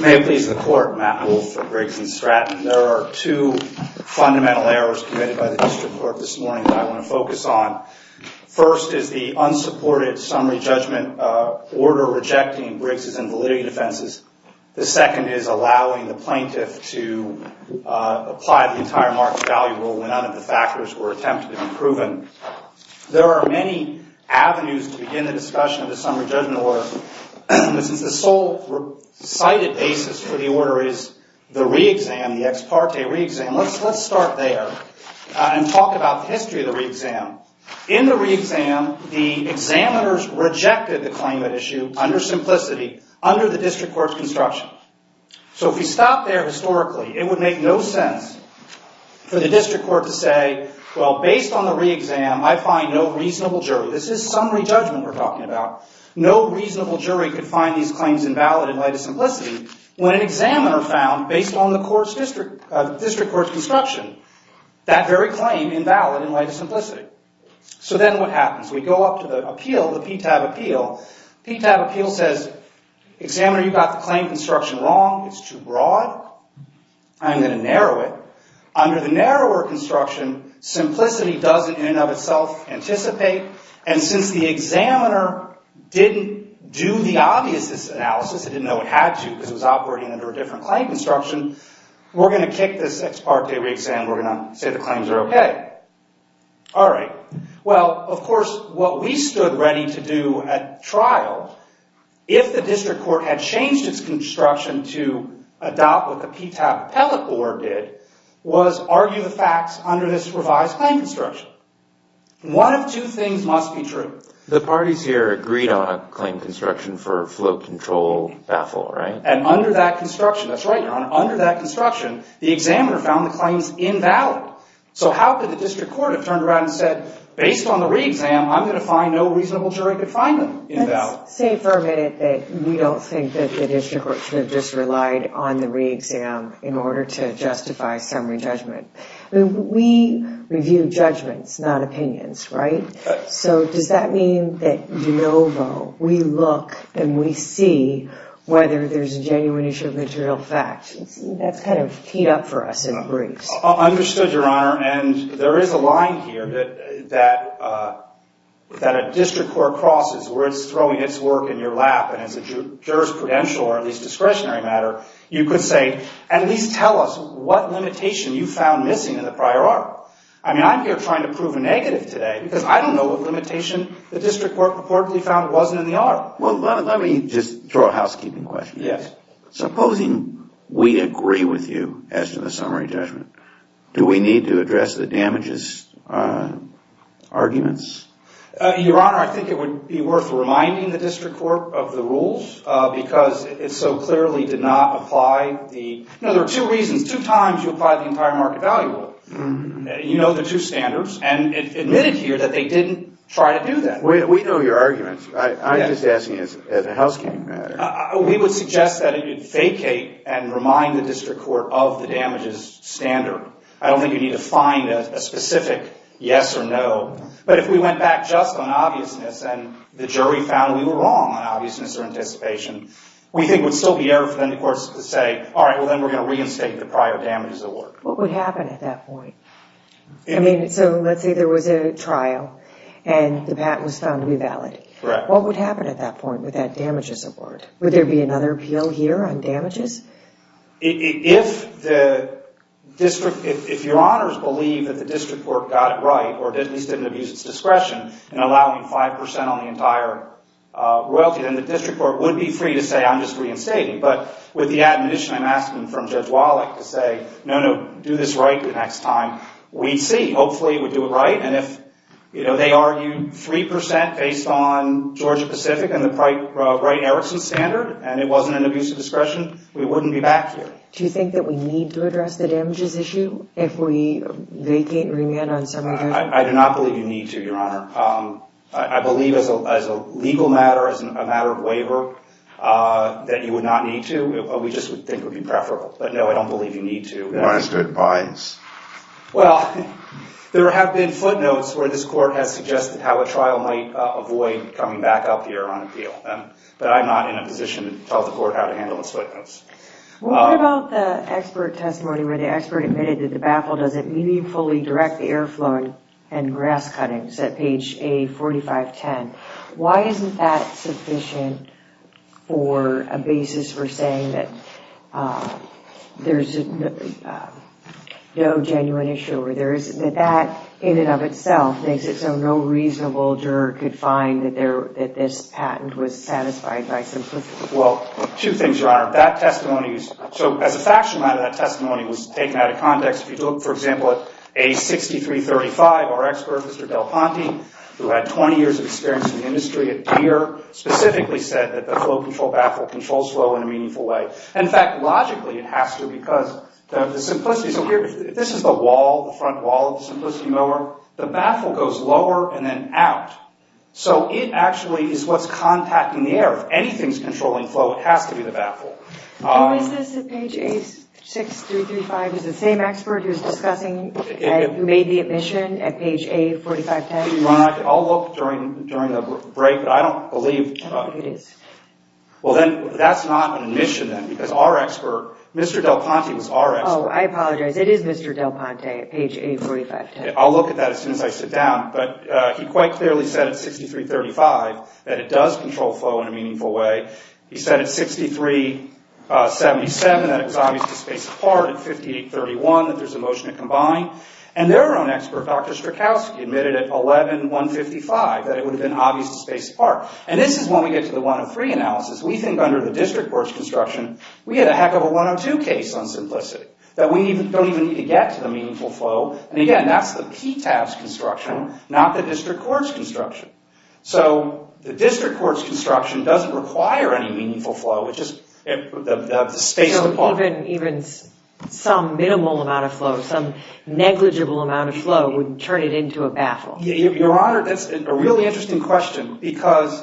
May it please the Court, Matt Wolfe for Briggs & Stratton. There are two fundamental errors committed by the District Court this morning that I want to focus on. First is the unsupported summary judgment order rejecting Briggs' invalidity defenses. The second is allowing the plaintiff to apply the entire market value rule when none of the factors were attempted and proven. There are many avenues to begin the discussion of the summary judgment order. The sole cited basis for the order is the re-exam, the ex parte re-exam. Let's start there and talk about the history of the re-exam. In the re-exam, the examiners rejected the District Court's construction. So if you stop there historically, it would make no sense for the District Court to say, well, based on the re-exam, I find no reasonable jury. This is summary judgment we're talking about. No reasonable jury could find these claims invalid in light of simplicity when an examiner found, based on the District Court's construction, that very claim invalid in light of simplicity. So then what happens? We go about the claim construction wrong. It's too broad. I'm going to narrow it. Under the narrower construction, simplicity doesn't, in and of itself, anticipate. And since the examiner didn't do the obviousness analysis, it didn't know it had to because it was operating under a different claim construction, we're going to kick this ex parte re-exam. We're going to say the claims are okay. All right. Well, of course, what we stood ready to do at trial, if the District Court had changed its construction to adopt what the PTAB Appellate Board did, was argue the facts under this revised claim construction. One of two things must be true. The parties here agreed on a claim construction for float control baffle, right? And under that construction, that's right, Your Honor. Under that construction, the examiner found the claims invalid. So how could the District Court have turned around and said, based on the re-exam, I'm going to find no reasonable jury to find them invalid? Let's say for a minute that we don't think that the District Court should have just relied on the re-exam in order to justify summary judgment. We review judgments, not opinions, right? So does that mean that de novo, we look and we see whether there's a genuine issue of material facts? That's kind of teed up for us in briefs. Understood, Your Honor. And there is a line here that a District Court crosses where it's throwing its work in your lap. And as a jurisprudential or at least discretionary matter, you could say, at least tell us what limitation you found missing in the prior article. I mean, I'm here trying to prove a negative today because I don't know what limitation the District Court reportedly found wasn't in the article. Well, let me just throw a housekeeping question. Yes. Supposing we agree with you as to the summary judgment, do we need to address the damages arguments? Your Honor, I think it would be worth reminding the District Court of the rules because it so clearly did not apply the, you know, there are two reasons, two times you apply the entire market value rule. You know the two standards and it's admitted here that they didn't try to do that. We know your arguments. I'm just asking as a housekeeping matter. We would suggest that it vacate and remind the District Court of the damages standard. I don't think you need to find a specific yes or no. But if we went back just on obviousness and the jury found we were wrong on obviousness or anticipation, we think it would still be error for the courts to say, all right, well then we're going to reinstate the prior damages award. What would happen at that point? I mean, so let's say there was a trial and the patent was found to be valid. Correct. What would happen at that point with that damages award? Would there be another appeal here on damages? If the District, if your Honors believe that the District Court got it right or at least didn't abuse its discretion in allowing 5% on the entire royalty, then the District Court would be free to say I'm just reinstating. But with the admonition I'm asking from Judge Wallach to say, no, no, do this right the next time, we'd see. Hopefully we do it right. And if, you know, they argued 3% based on Georgia-Pacific and the Bright-Erickson standard and it wasn't an abuse of discretion, we wouldn't be back here. Do you think that we need to address the damages issue if we vacate and remand on several days? I do not believe you need to, Your Honor. I believe as a legal matter, as a matter of waiver, that you would not need to. We just think it would be preferable. But no, I don't believe you need to. Why is there a bias? Well, there have been footnotes where this Court has suggested how a trial might avoid coming back up here on appeal. But I'm not in a position to tell the Court how to handle those footnotes. What about the expert testimony where the expert admitted that the baffle doesn't meaningfully direct the airflow and grass cuttings at page A4510? Why isn't that sufficient for a basis for saying that there's no genuine issue? That, in and of itself, makes it so no reasonable juror could find that this patent was satisfied by simplicity. Well, two things, Your Honor. That testimony, so as a factional matter, that testimony was taken out of context. If you look, for example, at A6335, our expert, Mr. Del Ponte, who had 20 years of experience in the industry at Deere, specifically said that the flow control baffle controls flow in a meaningful way. In fact, logically, it has to because of the simplicity. So here, this is the wall, the front wall of the simplicity mower. The baffle goes lower and then out. So it actually is what's contacting the air. If anything's controlling flow, it has to be the baffle. And was this at page A6335? Is the same expert who's discussing, who made the admission at page A4510? Well, Your Honor, I'll look during the break, but I don't believe it is. Well, then, that's not an admission, then, because our expert, Mr. Del Ponte, was our expert. Oh, I apologize. It is Mr. Del Ponte at page A4510. I'll look at that as soon as I sit down. But he quite clearly said at 6335 that it does control flow in a meaningful way. He said at 6377 that it was obviously spaced apart, at 5831 that there's a motion to combine. And their own expert, Dr. Strzokowski, admitted at 11155 that it would have been obviously spaced apart. And this is when we get to the 103 analysis. We think under the district court's construction, we had a heck of a 102 case on simplicity, that we don't even need to get to the meaningful flow. And again, that's the PTAS construction, not the district court's construction. So the district court's construction doesn't require any meaningful flow. It's just spaced apart. So even some minimal amount of flow, some negligible amount of flow, would turn it into a battle. Your Honor, that's a really interesting question. Because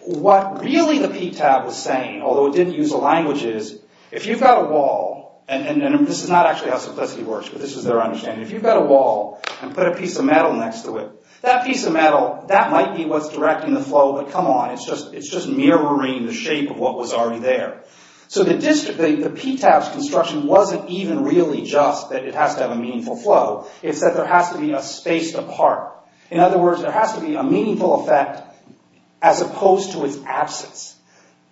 what really the PTAS was saying, although it didn't use the language, is if you've got a wall, and this is not actually how simplicity works, but this is their understanding. If you've got a wall and put a piece of metal next to it, that piece of metal, that might be what's directing the flow, but come on, it's just mirroring the shape of what was already there. So the PTAS construction wasn't even really just that it has to have a meaningful flow. It's that there has to be a spaced apart. In other words, there has to be a meaningful effect as opposed to its absence.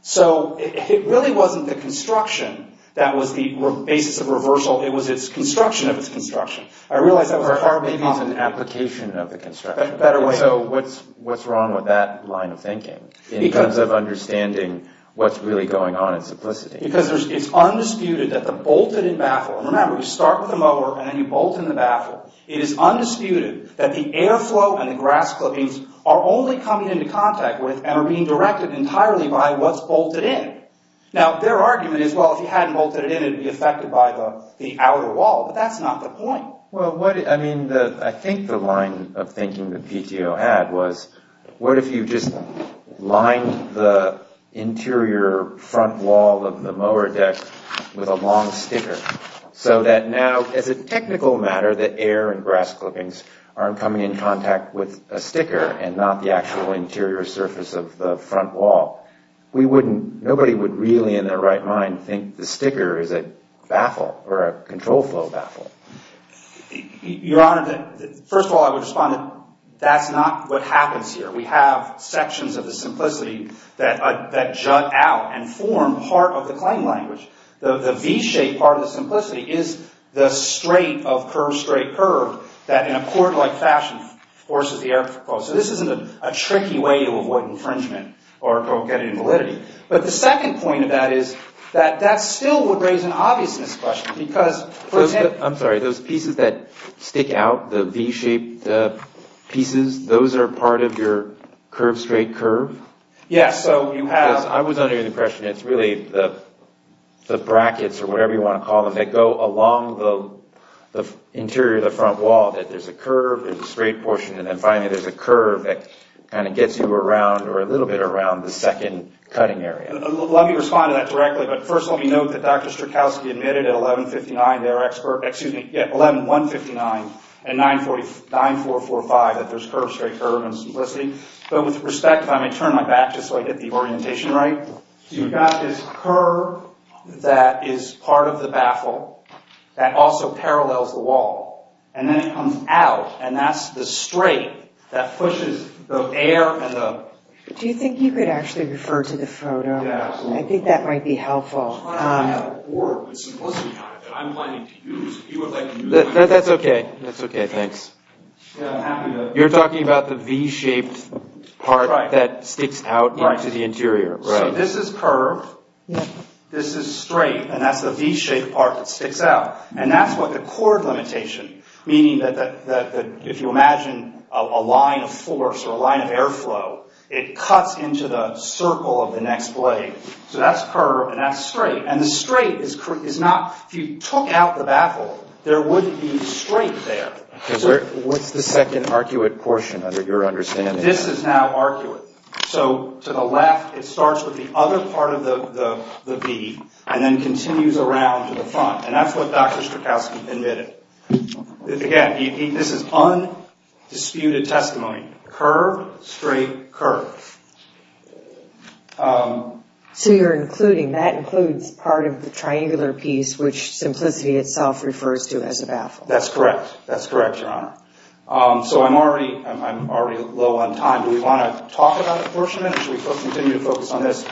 So it really wasn't the construction that was the basis of reversal. It was its construction of its construction. I realize that was a part of it. Or maybe it's an application of the construction. Better way. So what's wrong with that line of thinking, in terms of understanding what's really going on in simplicity? Because it's undisputed that the bolted-in baffle, and remember, you start with the mower and then you bolt in the baffle. It is undisputed that the airflow and the grass clippings are only coming into contact with and are being directed entirely by what's bolted in. Now their argument is, well, if you hadn't bolted it in, it would be affected by the outer wall, but that's not the point. I think the line of thinking that PTO had was, what if you just lined the interior front wall of the mower deck with a long sticker, so that now, as a technical matter, the air and grass clippings aren't coming in contact with a sticker and not the actual interior surface of the front wall? Nobody would really, in their right mind, think the sticker is a baffle or a control flow baffle. Your Honor, first of all, I would respond that that's not what happens here. We have a part of the claim language. The V-shaped part of the simplicity is the straight of curve-straight-curve that, in a court-like fashion, forces the air to flow. So this isn't a tricky way to avoid infringement or get an invalidity. But the second point of that is that that still would raise an obviousness question, because... I'm sorry, those pieces that stick out, the V-shaped pieces, those are part of your curve-straight-curve? Yes, so you have... I was under the impression it's really the brackets, or whatever you want to call them, that go along the interior of the front wall, that there's a curve and a straight portion, and then finally there's a curve that kind of gets you around, or a little bit around, the second cutting area. Let me respond to that directly, but first let me note that Dr. Strzokowski admitted at 11-159 and 9-445 that there's curve-straight-curve and simplicity, but with respect, if I may turn my back just so I get the orientation right, you've got this curve that is part of the baffle that also parallels the wall, and then it comes out, and that's the straight that pushes the air and the... Do you think you could actually refer to the photo? Yeah, absolutely. I think that might be helpful. I'm trying to have a board with simplicity on it that I'm planning to use, if you would like to use it... That's okay, that's okay, thanks. Yeah, I'm happy to... That's the V-shaped part that sticks out into the interior, right? So this is curved, this is straight, and that's the V-shaped part that sticks out, and that's what the core limitation, meaning that if you imagine a line of force or a line of airflow, it cuts into the circle of the next blade, so that's curved and that's straight, and the straight is not, if you took out the baffle, there wouldn't be straight there. What's the second arcuate portion, under your understanding? This is now arcuate, so to the left, it starts with the other part of the V, and then continues around to the front, and that's what Dr. Strakowski admitted. Again, this is undisputed testimony, curved, straight, curved. So you're including, that includes part of the triangular piece, which simplicity itself refers to as a baffle. That's correct, that's correct, Your Honor. So I'm already low on time, do we want to talk about it for a minute, or should we continue to focus on this?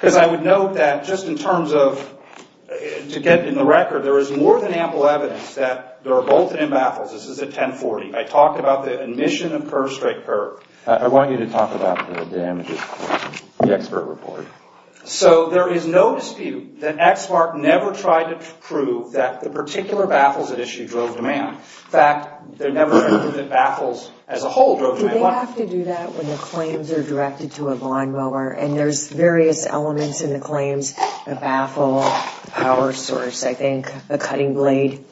Because I would note that, just in terms of, to get in the record, there is more than ample evidence that there are bolted-in baffles, this is at 1040, I talked about the admission of curved, straight, curved. I want you to talk about the damages, the expert report. So there is no dispute that EXMARC never tried to prove that the particular baffles at issue drove demand. In fact, they never proved that baffles as a whole drove demand. Do they have to do that when the claims are directed to a lawn mower, and there's various elements in the claims, a baffle, power source, I think, a cutting blade?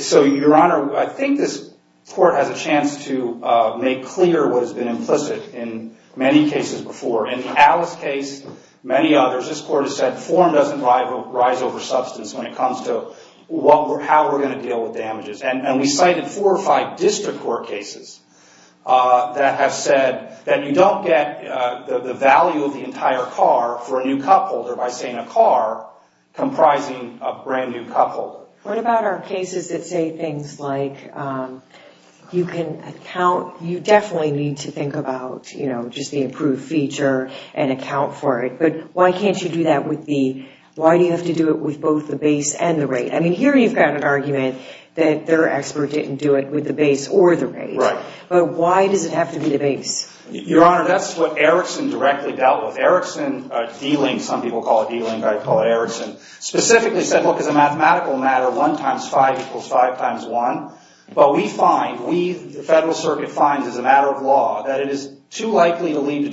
So Your Honor, I think this Court has a chance to make clear what has been implicit in many cases before. In Alice's case, many others, this Court has said form doesn't rise over substance when it comes to how we're going to deal with damages. And we cited four or five district court cases that have said that you don't get the value of the entire car for a new cup holder by saying a car comprising a brand new cup holder. What about our cases that say things like, you can account, you definitely need to think about, you know, just the improved feature and account for it, but why can't you do that with the, why do you have to do it with both the base and the rate? I mean, here you've got an argument that their expert didn't do it with the base or the rate. Right. But why does it have to be the base? Your Honor, that's what Erickson directly dealt with. Erickson dealing, some people call it dealing, but I call it Erickson, specifically said, look, as a mathematical matter, 1 times 5 equals 5 times 1. But we find, the Federal Circuit finds as a matter of law, that it is too likely to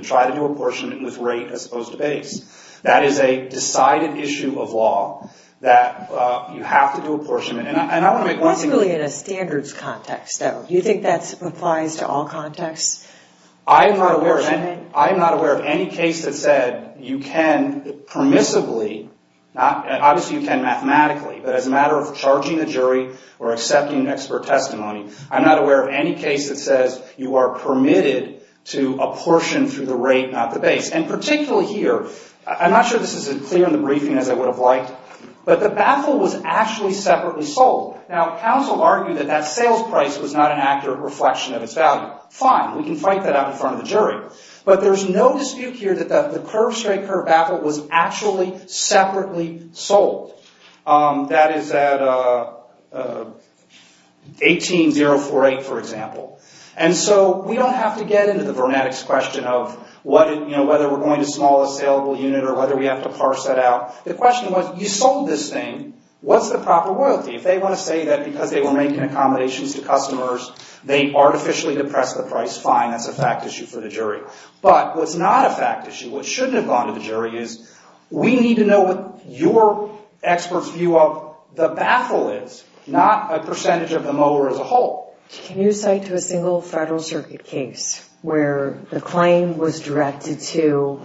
try to do apportionment with rate as opposed to base. That is a decided issue of law, that you have to do apportionment, and I want to make one thing clear. What's really in a standards context though? Do you think that applies to all contexts? I am not aware, I am not aware of any case that said you can permissibly, obviously you can mathematically, but as a matter of charging the jury or accepting expert testimony, I'm through the rate, not the base. And particularly here, I'm not sure this is as clear in the briefing as I would have liked, but the baffle was actually separately sold. Now, counsel argued that that sales price was not an accurate reflection of its value. Fine, we can fight that out in front of the jury, but there's no dispute here that the curve-straight curve baffle was actually separately sold. That is at 18-048, for example. And so, we don't have to get into the vernetics question of whether we're going to small a saleable unit or whether we have to parse that out. The question was, you sold this thing, what's the proper royalty? If they want to say that because they were making accommodations to customers, they artificially depressed the price, fine, that's a fact issue for the jury. But what's not a fact issue, what shouldn't have gone to the jury is, we need to know what your expert's view of the baffle is, not a percentage of the mower as a whole. Can you cite to a single Federal Circuit case where the claim was directed to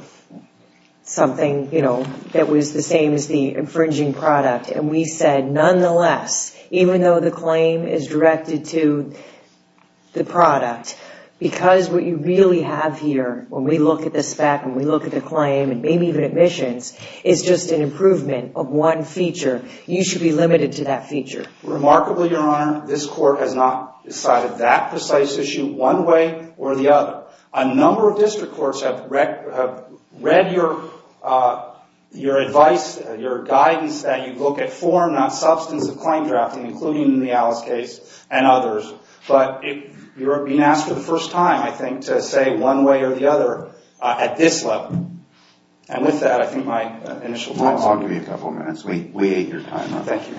something, you know, that was the same as the infringing product, and we said, nonetheless, even though the claim is directed to the product, because what you really have here, when we look at the spec, when we look at the claim, and maybe even admissions, is just an improvement of one feature, you should be limited to that feature. Remarkably, Your Honor, this court has not decided that precise issue one way or the other. A number of district courts have read your advice, your guidance, that you look at form, not substance of claim drafting, including the Alice case and others. But you're being asked for the first time, I think, to say one way or the other at this level. And with that, I think my initial time is up. I'll give you a couple of minutes. We ate your time up. Thank you.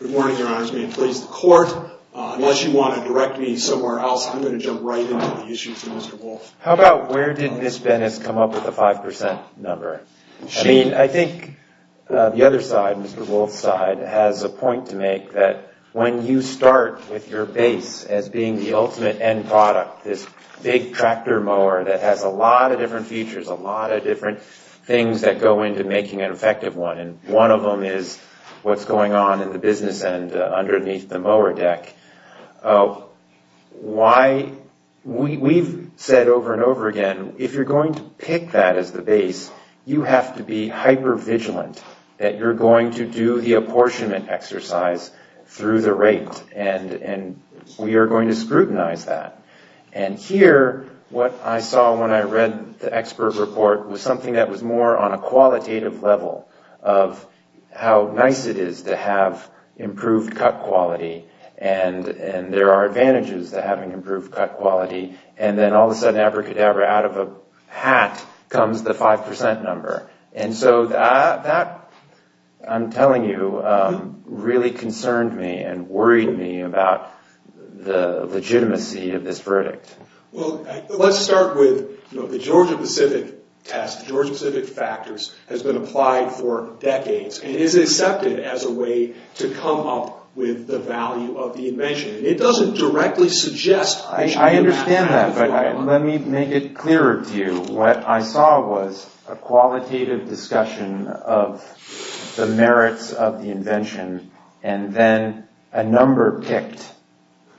Good morning, Your Honors. May it please the court. Unless you want to direct me somewhere else, I'm going to jump right into the issues of Mr. Wolf. How about where did Ms. Bennis come up with the 5% number? I mean, I think the other side, Mr. Wolf's side, has a point to make that when you start with your base as being the ultimate end product, this big tractor mower that has a lot of different features, a lot of different things that go into making an effective one, and one of them is what's going on in the business end underneath the mower deck, we've said over and over again, if you're going to pick that as the base, you have to be hyper-vigilant that you're going to do the apportionment exercise through the rate, and we are going to scrutinize that. And here, what I saw when I read the expert report was something that was more on a qualitative level of how nice it is to have improved cut quality, and there are advantages to having improved cut quality, and then all of a sudden, abracadabra, out of a hat comes the 5% number. And so that, I'm telling you, really concerned me and worried me about the legitimacy of this verdict. Well, let's start with the Georgia-Pacific test, Georgia-Pacific factors, has been applied for decades, and is accepted as a way to come up with the value of the invention. It doesn't directly suggest that you should do that. I understand that, but let me make it clearer to you. What I saw was a qualitative discussion of the merits of the invention, and then a number picked,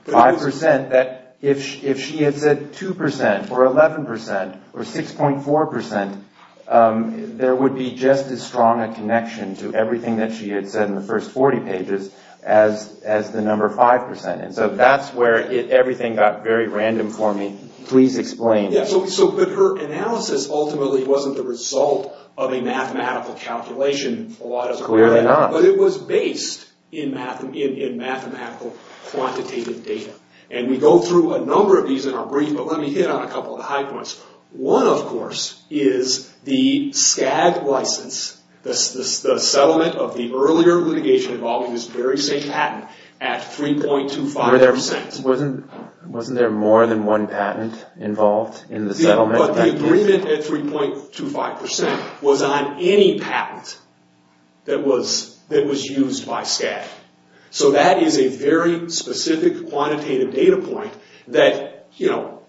5%, that if she had said 2%, or 11%, or 6.4%, there would be just as strong a connection to everything that she had said in the first 40 pages as the number 5%. And so that's where everything got very random for me. Please explain. Yeah, so her analysis ultimately wasn't the result of a mathematical calculation, a lot of the time. Clearly not. But it was based in mathematical quantitative data. And we go through a number of these in our brief, but let me hit on a couple of the high points. One, of course, is the SCAG license, the settlement of the earlier litigation involving this very same patent at 3.25%. Wasn't there more than one patent involved in the settlement? Yeah, but the agreement at 3.25% was on any patent that was used by SCAG. So that is a very specific quantitative data point that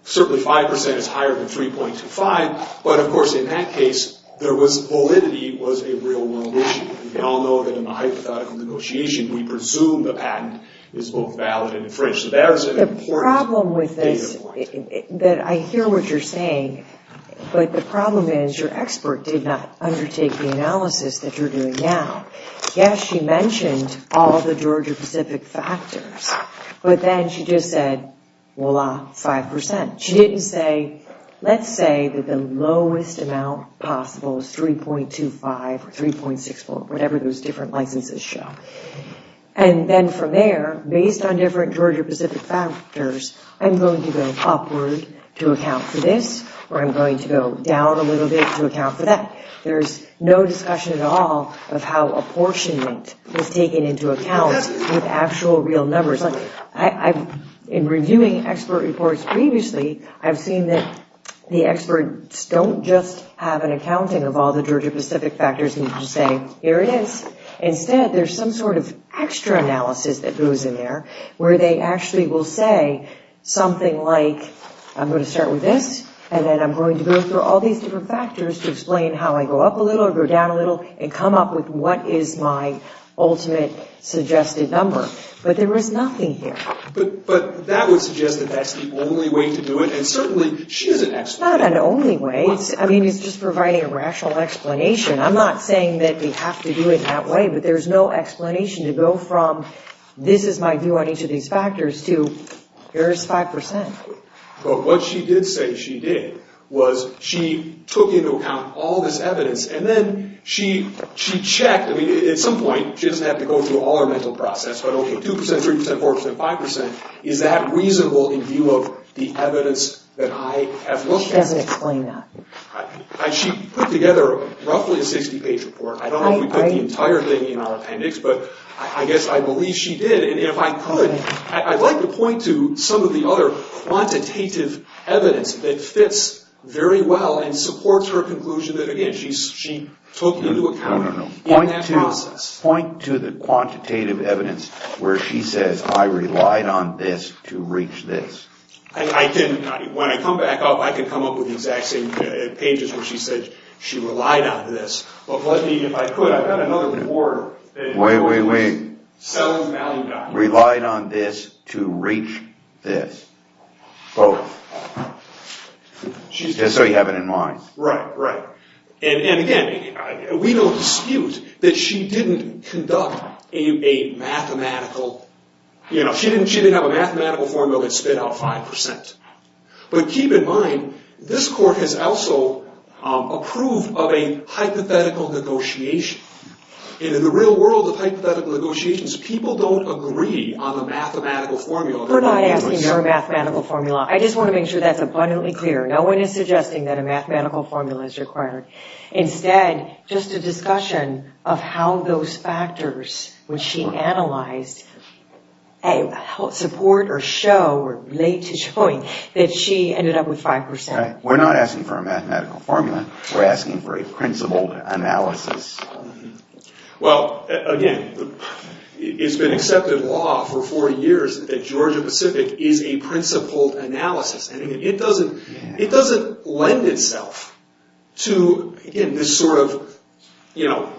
certainly 5% is higher than 3.25%, but of course in that case, validity was a real-world issue. We all know that in a hypothetical negotiation, we presume the patent is both valid and infringed. The problem with this, that I hear what you're saying, but the problem is your expert did not undertake the analysis that you're doing now. Yes, she mentioned all the Georgia-Pacific factors, but then she just said, voila, 5%. She didn't say, let's say that the lowest amount possible is 3.25 or 3.64, whatever those different licenses show. And then from there, based on different Georgia-Pacific factors, I'm going to go upward to account for this, or I'm going to go down a little bit to account for that. There's no discussion at all of how apportionment is taken into account with actual real numbers. In reviewing expert reports previously, I've seen that the experts don't just have an accounting of all the Georgia-Pacific factors and just say, here it is. Instead, there's some sort of extra analysis that goes in there, where they actually will say something like, I'm going to start with this, and then I'm going to go through all these different factors to explain how I go up a little, or go down a little, and come up with what is my ultimate suggested number. But there is nothing here. But that would suggest that that's the only way to do it, and certainly, she is an expert. It's not an only way. I mean, it's just providing a rational explanation. I'm not saying that we have to do it that way, but there's no explanation to go from, this is my view on each of these factors, to, here's 5%. But what she did say she did was she took into account all this evidence, and then she checked. I mean, at some point, she doesn't have to go through all her mental process, but, okay, 2%, 3%, 4%, 5%, is that reasonable in view of the evidence that I have looked at? She doesn't explain that. She put together roughly a 60-page report. I don't know if we put the entire thing in our appendix, but I guess I believe she did. And if I could, I'd like to point to some of the other quantitative evidence that fits very well and supports her conclusion that, again, she took into account in that process. No, no, no. Point to the quantitative evidence where she says, I relied on this to reach this. When I come back up, I can come up with the exact same pages where she said she relied on this. But let me, if I could, I've got another report that is going to be selling value documents. Wait, wait, wait. Relied on this to reach this. Both. Just so you have it in mind. Right, right. And again, we don't dispute that she didn't conduct a mathematical, you know, she didn't have a mathematical formula that spit out 5%. But keep in mind, this court has also approved of a hypothetical negotiation. And in the real world of hypothetical negotiations, people don't agree on the mathematical formula. We're not asking for a mathematical formula. I just want to make sure that's abundantly clear. No one is suggesting that a mathematical formula is required. Instead, just a discussion of how those factors, which she analyzed, support or show or relate to showing that she ended up with 5%. We're not asking for a mathematical formula. We're asking for a principled analysis. Well, again, it's been accepted law for 40 years that Georgia-Pacific is a principled analysis. It doesn't lend itself to, again, this sort of, you know,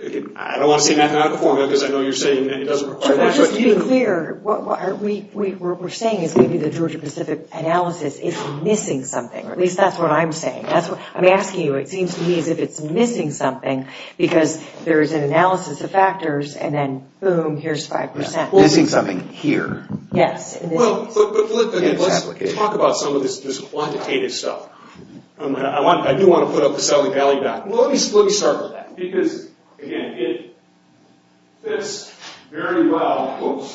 I don't want to say mathematical formula because I know you're saying that it doesn't require much. Just to be clear, what we're saying is maybe the Georgia-Pacific analysis is missing something. At least that's what I'm saying. I'm asking you. It seems to me as if it's missing something because there is an analysis of factors and then, boom, here's 5%. Missing something here. Yes. Well, let's talk about some of this quantitative stuff. I do want to put up the Southern Valley back. Let me start with that. Because, again, it fits very well.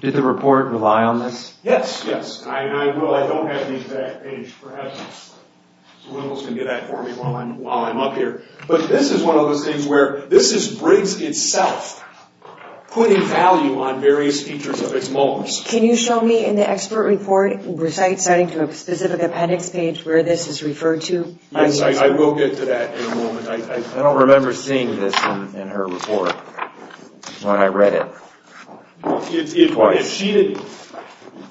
Did the report rely on this? Yes. Yes. I don't have the exact page for evidence. Someone else can get that for me while I'm up here. But this is one of those things where this is Briggs itself putting value on various features of its moles. Can you show me in the expert report, besides citing to a specific appendix page, where this is referred to? Yes. I will get to that in a moment. I don't remember seeing this in her report when I read it.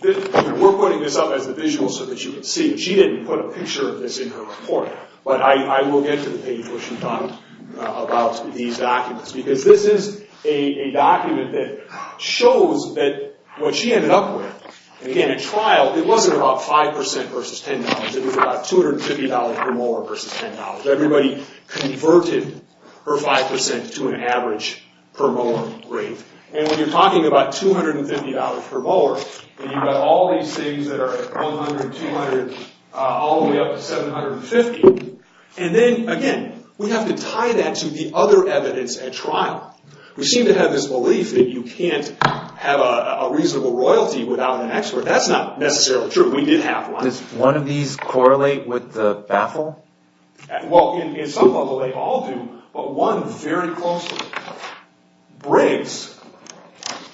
We're putting this up as a visual so that you can see. She didn't put a picture of this in her report. But I will get to the page where she talked about these documents. Because this is a document that shows that what she ended up with, again, in trial, it wasn't about 5% versus $10. It was about $250 per molar versus $10. Everybody converted her 5% to an average per molar rate. When you're talking about $250 per molar, you've got all these things that are 100, 200, all the way up to 750. And then, again, we have to tie that to the other evidence at trial. We seem to have this belief that you can't have a reasonable royalty without an expert. That's not necessarily true. We did have one. Does one of these correlate with the baffle? Well, in some level, they all do. But one very closely. Briggs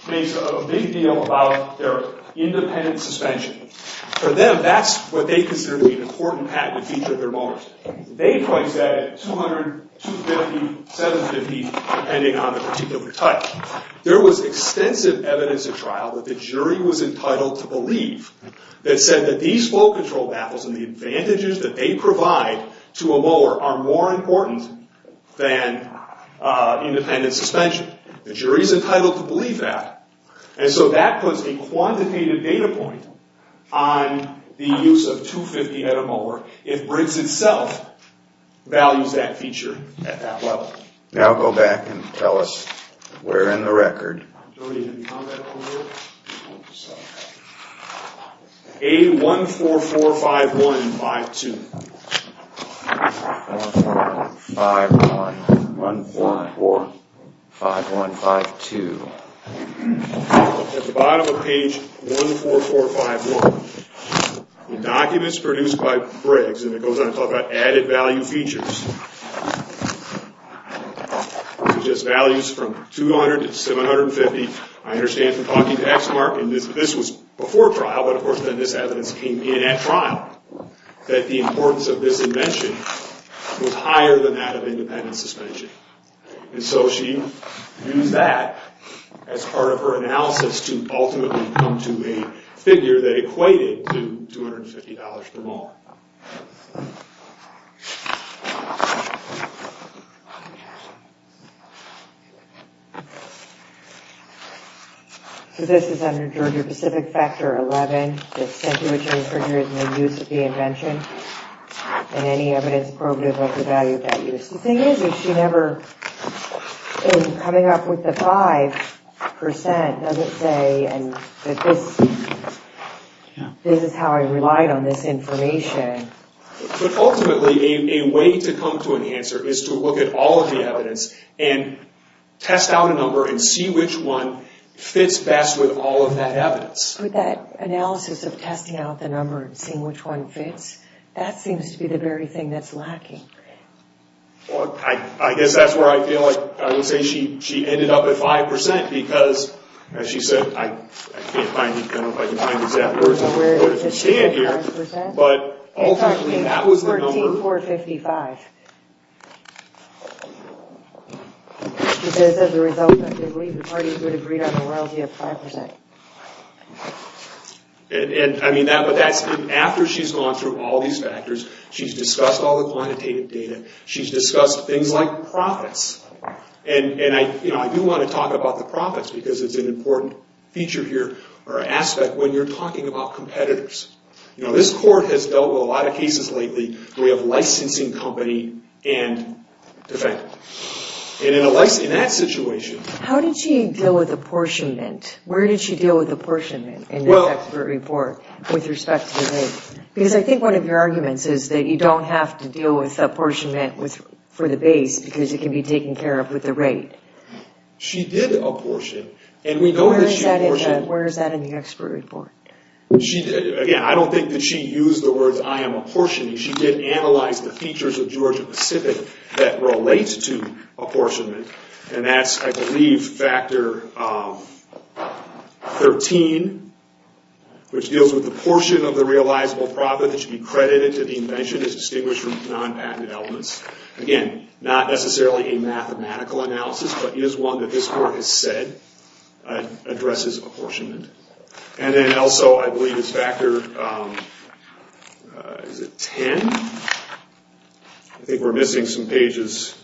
makes a big deal about their independent suspension. For them, that's what they consider to be an important patented feature of their molars. They priced that at $200, $250, $750, depending on the particular type. There was extensive evidence at trial that the jury was entitled to believe that said that these flow control baffles and the advantages that they provide to a molar are more important than independent suspension. The jury's entitled to believe that. And so that puts a quantitative data point on the use of $250 at a molar if Briggs itself values that feature at that level. Now go back and tell us where in the record. A1445152. A1445152. At the bottom of page 14451, the documents produced by Briggs, and it goes on to talk about added value features. Suggest values from $200 to $750. I understand from talking to Exmark, and this was before trial, but of course then this evidence came in at trial, that the importance of this invention was higher than that of independent suspension. And so she used that as part of her analysis to ultimately come to a figure that equated to $250 per molar. So this is under Georgia-Pacific Factor 11, the situation in which a figure is made use of the invention, and any evidence probative of the value of that use. The thing is, she never, in coming up with the 5%, doesn't say, this is how I relied on this information. But ultimately, a way to come to an answer is to look at all of the evidence, and test out a number and see which one fits best with all of that evidence. But that analysis of testing out the number and seeing which one fits, that seems to be the very thing that's lacking. I guess that's where I feel like, I would say she ended up at 5%, because, as she said, I can't find, I don't know if I can find the exact numbers, but ultimately that was the number. Because as a result, I believe the parties would have agreed on the royalty of 5%. I mean, after she's gone through all these factors, she's discussed all the quantitative data, she's discussed things like profits. And I do want to talk about the profits, because it's an important feature here, or aspect, when you're talking about competitors. This court has dealt with a lot of cases lately where we have licensing company and defendant. And in that situation... How did she deal with apportionment? Where did she deal with apportionment in the expert report with respect to the raid? Because I think one of your arguments is that you don't have to deal with apportionment for the base, because it can be taken care of with the raid. She did apportion, and we know that she apportioned... Where is that in the expert report? Again, I don't think that she used the words, I am apportioning. She did analyze the features of Georgia-Pacific that relate to apportionment. And that's, I believe, factor 13, which deals with the portion of the realizable profit that should be credited to the invention is distinguished from non-patent elements. Again, not necessarily a mathematical analysis, but it is one that this court has said addresses apportionment. And then also, I believe it's factor... Is it 10? I think we're missing some pages.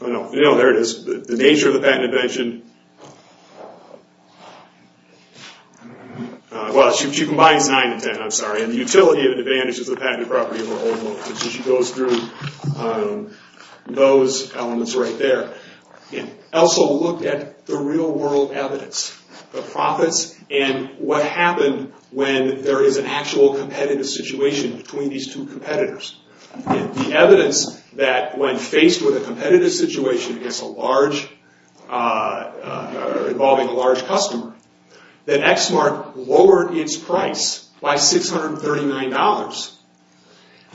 Oh no, there it is. The nature of the patent invention... Well, she combines 9 and 10, I'm sorry. And the utility of an advantage is the patented property of an old motion. She goes through those elements right there. And also looked at the real-world evidence. The profits and what happened when there is an actual competitive situation between these two competitors. The evidence that when faced with a competitive situation involving a large customer, that ExSmart lowered its price by $639.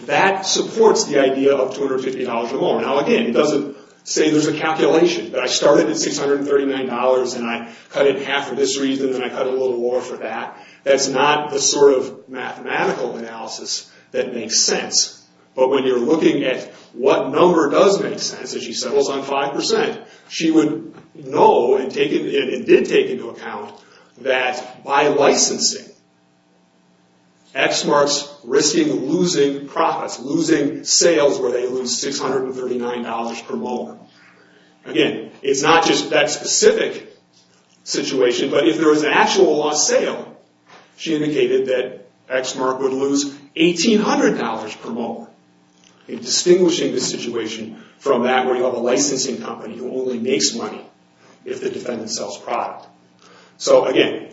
That supports the idea of $250 or more. Now again, it doesn't say there's a calculation. That I started at $639 and I cut it in half for this reason and I cut a little more for that. That's not the sort of mathematical analysis that makes sense. But when you're looking at what number does make sense, as she settles on 5%, she would know and did take into account that by licensing, ExSmart's risking losing profits, losing sales where they lose $639 per moment. Again, it's not just that specific situation, but if there was an actual lost sale, she indicated that ExSmart would lose $1,800 per moment. Distinguishing the situation from that where you have a licensing company who only makes money if the defendant sells product. So again,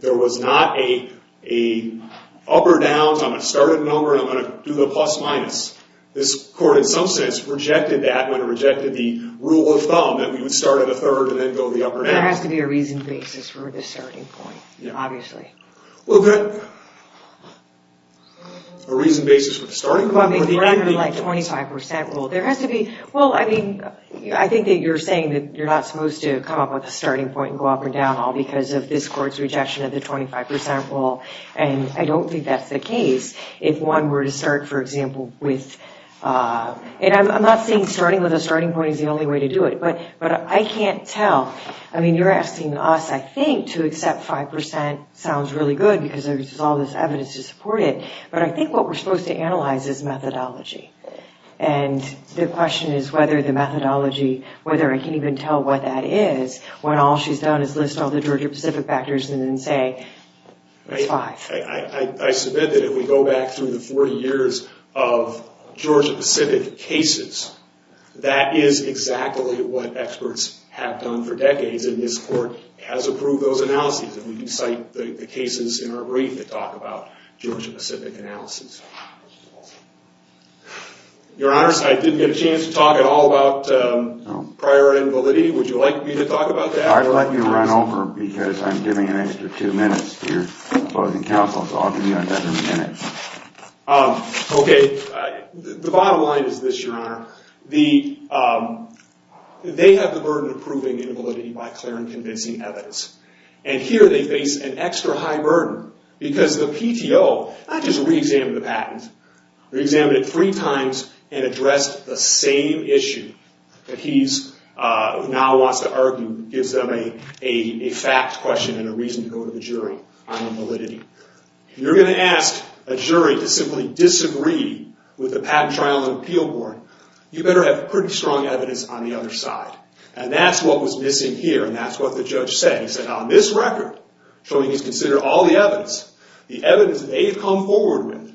there was not an up or down. I'm going to start at a number and I'm going to do the plus or minus. This court, in some sense, rejected that when it rejected the rule of thumb that we would start at a third and then go the up or down. There has to be a reasoned basis for the starting point, obviously. A reasoned basis for the starting point? We're under a 25% rule. I think that you're saying that you're not supposed to come up with a starting point and go up or down all because of this court's rejection of the 25% rule. I don't think that's the case. If one were to start, for example, with... I'm not saying starting with a starting point is the only way to do it, but I can't tell. I mean, you're asking us, I think, to accept 5%. Sounds really good because there's all this evidence to support it. But I think what we're supposed to analyze is methodology. The question is whether the methodology, whether I can even tell what that is when all she's done is list all the Georgia-Pacific factors and then say it's 5%. I submit that if we go back through the 40 years of Georgia-Pacific cases, that is exactly what experts have done for decades. And this court has approved those analyses. And we can cite the cases in our brief that talk about Georgia-Pacific analyses. Your Honors, I didn't get a chance to talk at all about priority and validity. Would you like me to talk about that? I'd like you to run over because I'm giving an extra two minutes to your closing counsel, so I'll give you another minute. The bottom line is this, Your Honor. They have the burden of proving invalidity by clear and convincing evidence. And here they face an extra high burden because the PTO not just re-examined the patent, re-examined it three times and addressed the same issue. That he now wants to argue gives them a fact question and a reason to go to the jury on validity. If you're going to ask a jury to simply disagree with the patent trial and appeal board, you better have pretty strong evidence on the other side. And that's what was missing here and that's what the judge said. He said, on this record, showing he's considered all the evidence, the evidence they've come forward with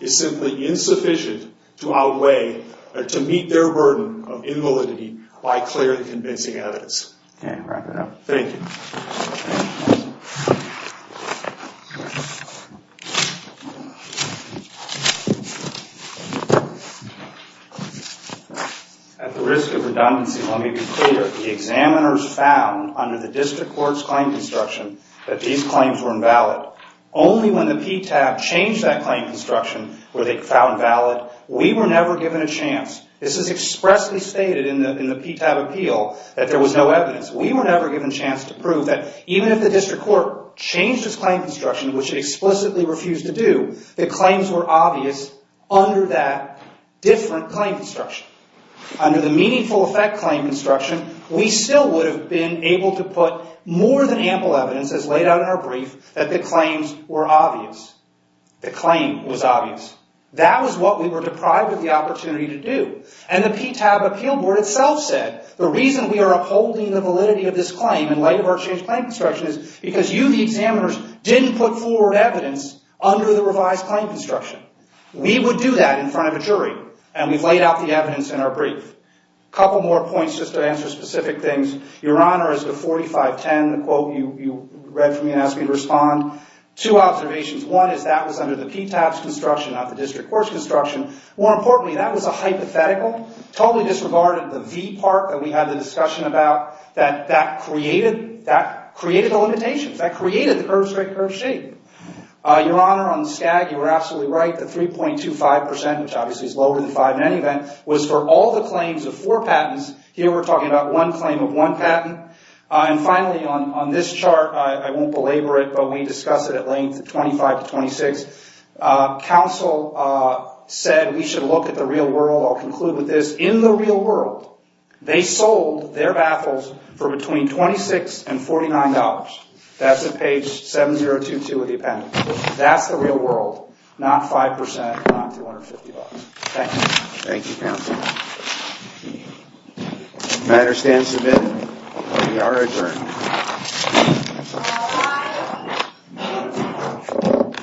is simply insufficient to outweigh or to meet their burden of invalidity by clear and convincing evidence. Okay, wrap it up. Thank you. At the risk of redundancy, let me be clear. The examiners found under the district court's claim construction that these claims were invalid. Only when the PTAB changed that claim construction were they found valid. We were never given a chance. This is expressly stated in the PTAB appeal that there was no evidence. We were never given a chance to prove that even if the district court changed its claim construction, which it explicitly refused to do, the claims were obvious under that different claim construction. Under the meaningful effect claim construction, we still would have been able to put more than ample evidence, as laid out in our brief, that the claims were obvious. The claim was obvious. That was what we were deprived of the opportunity to do. And the PTAB appeal board itself said, the reason we are upholding the validity of this claim in light of our changed claim construction is because you, the examiners, didn't put forward evidence under the revised claim construction. We would do that in front of a jury. And we've laid out the evidence in our brief. A couple more points just to answer specific things. Two observations. One is that was under the PTAB's construction, not the district court's construction. More importantly, that was a hypothetical. Totally disregarded the V part that we had the discussion about. That created the limitations. That created the curve straight curve shape. Your Honor, on the SCAG, you were absolutely right. The 3.25%, which obviously is lower than 5% in any event, was for all the claims of four patents. Here we're talking about one claim of one patent. And finally, on this chart, I won't belabor it, but we discussed it at length, 25 to 26. Counsel said we should look at the real world. I'll conclude with this. In the real world, they sold their baffles for between $26 and $49. That's at page 7022 of the appendix. That's the real world, not 5%, not $250. Thank you. Thank you, Counsel. The matter stands submitted. We are adjourned. All rise.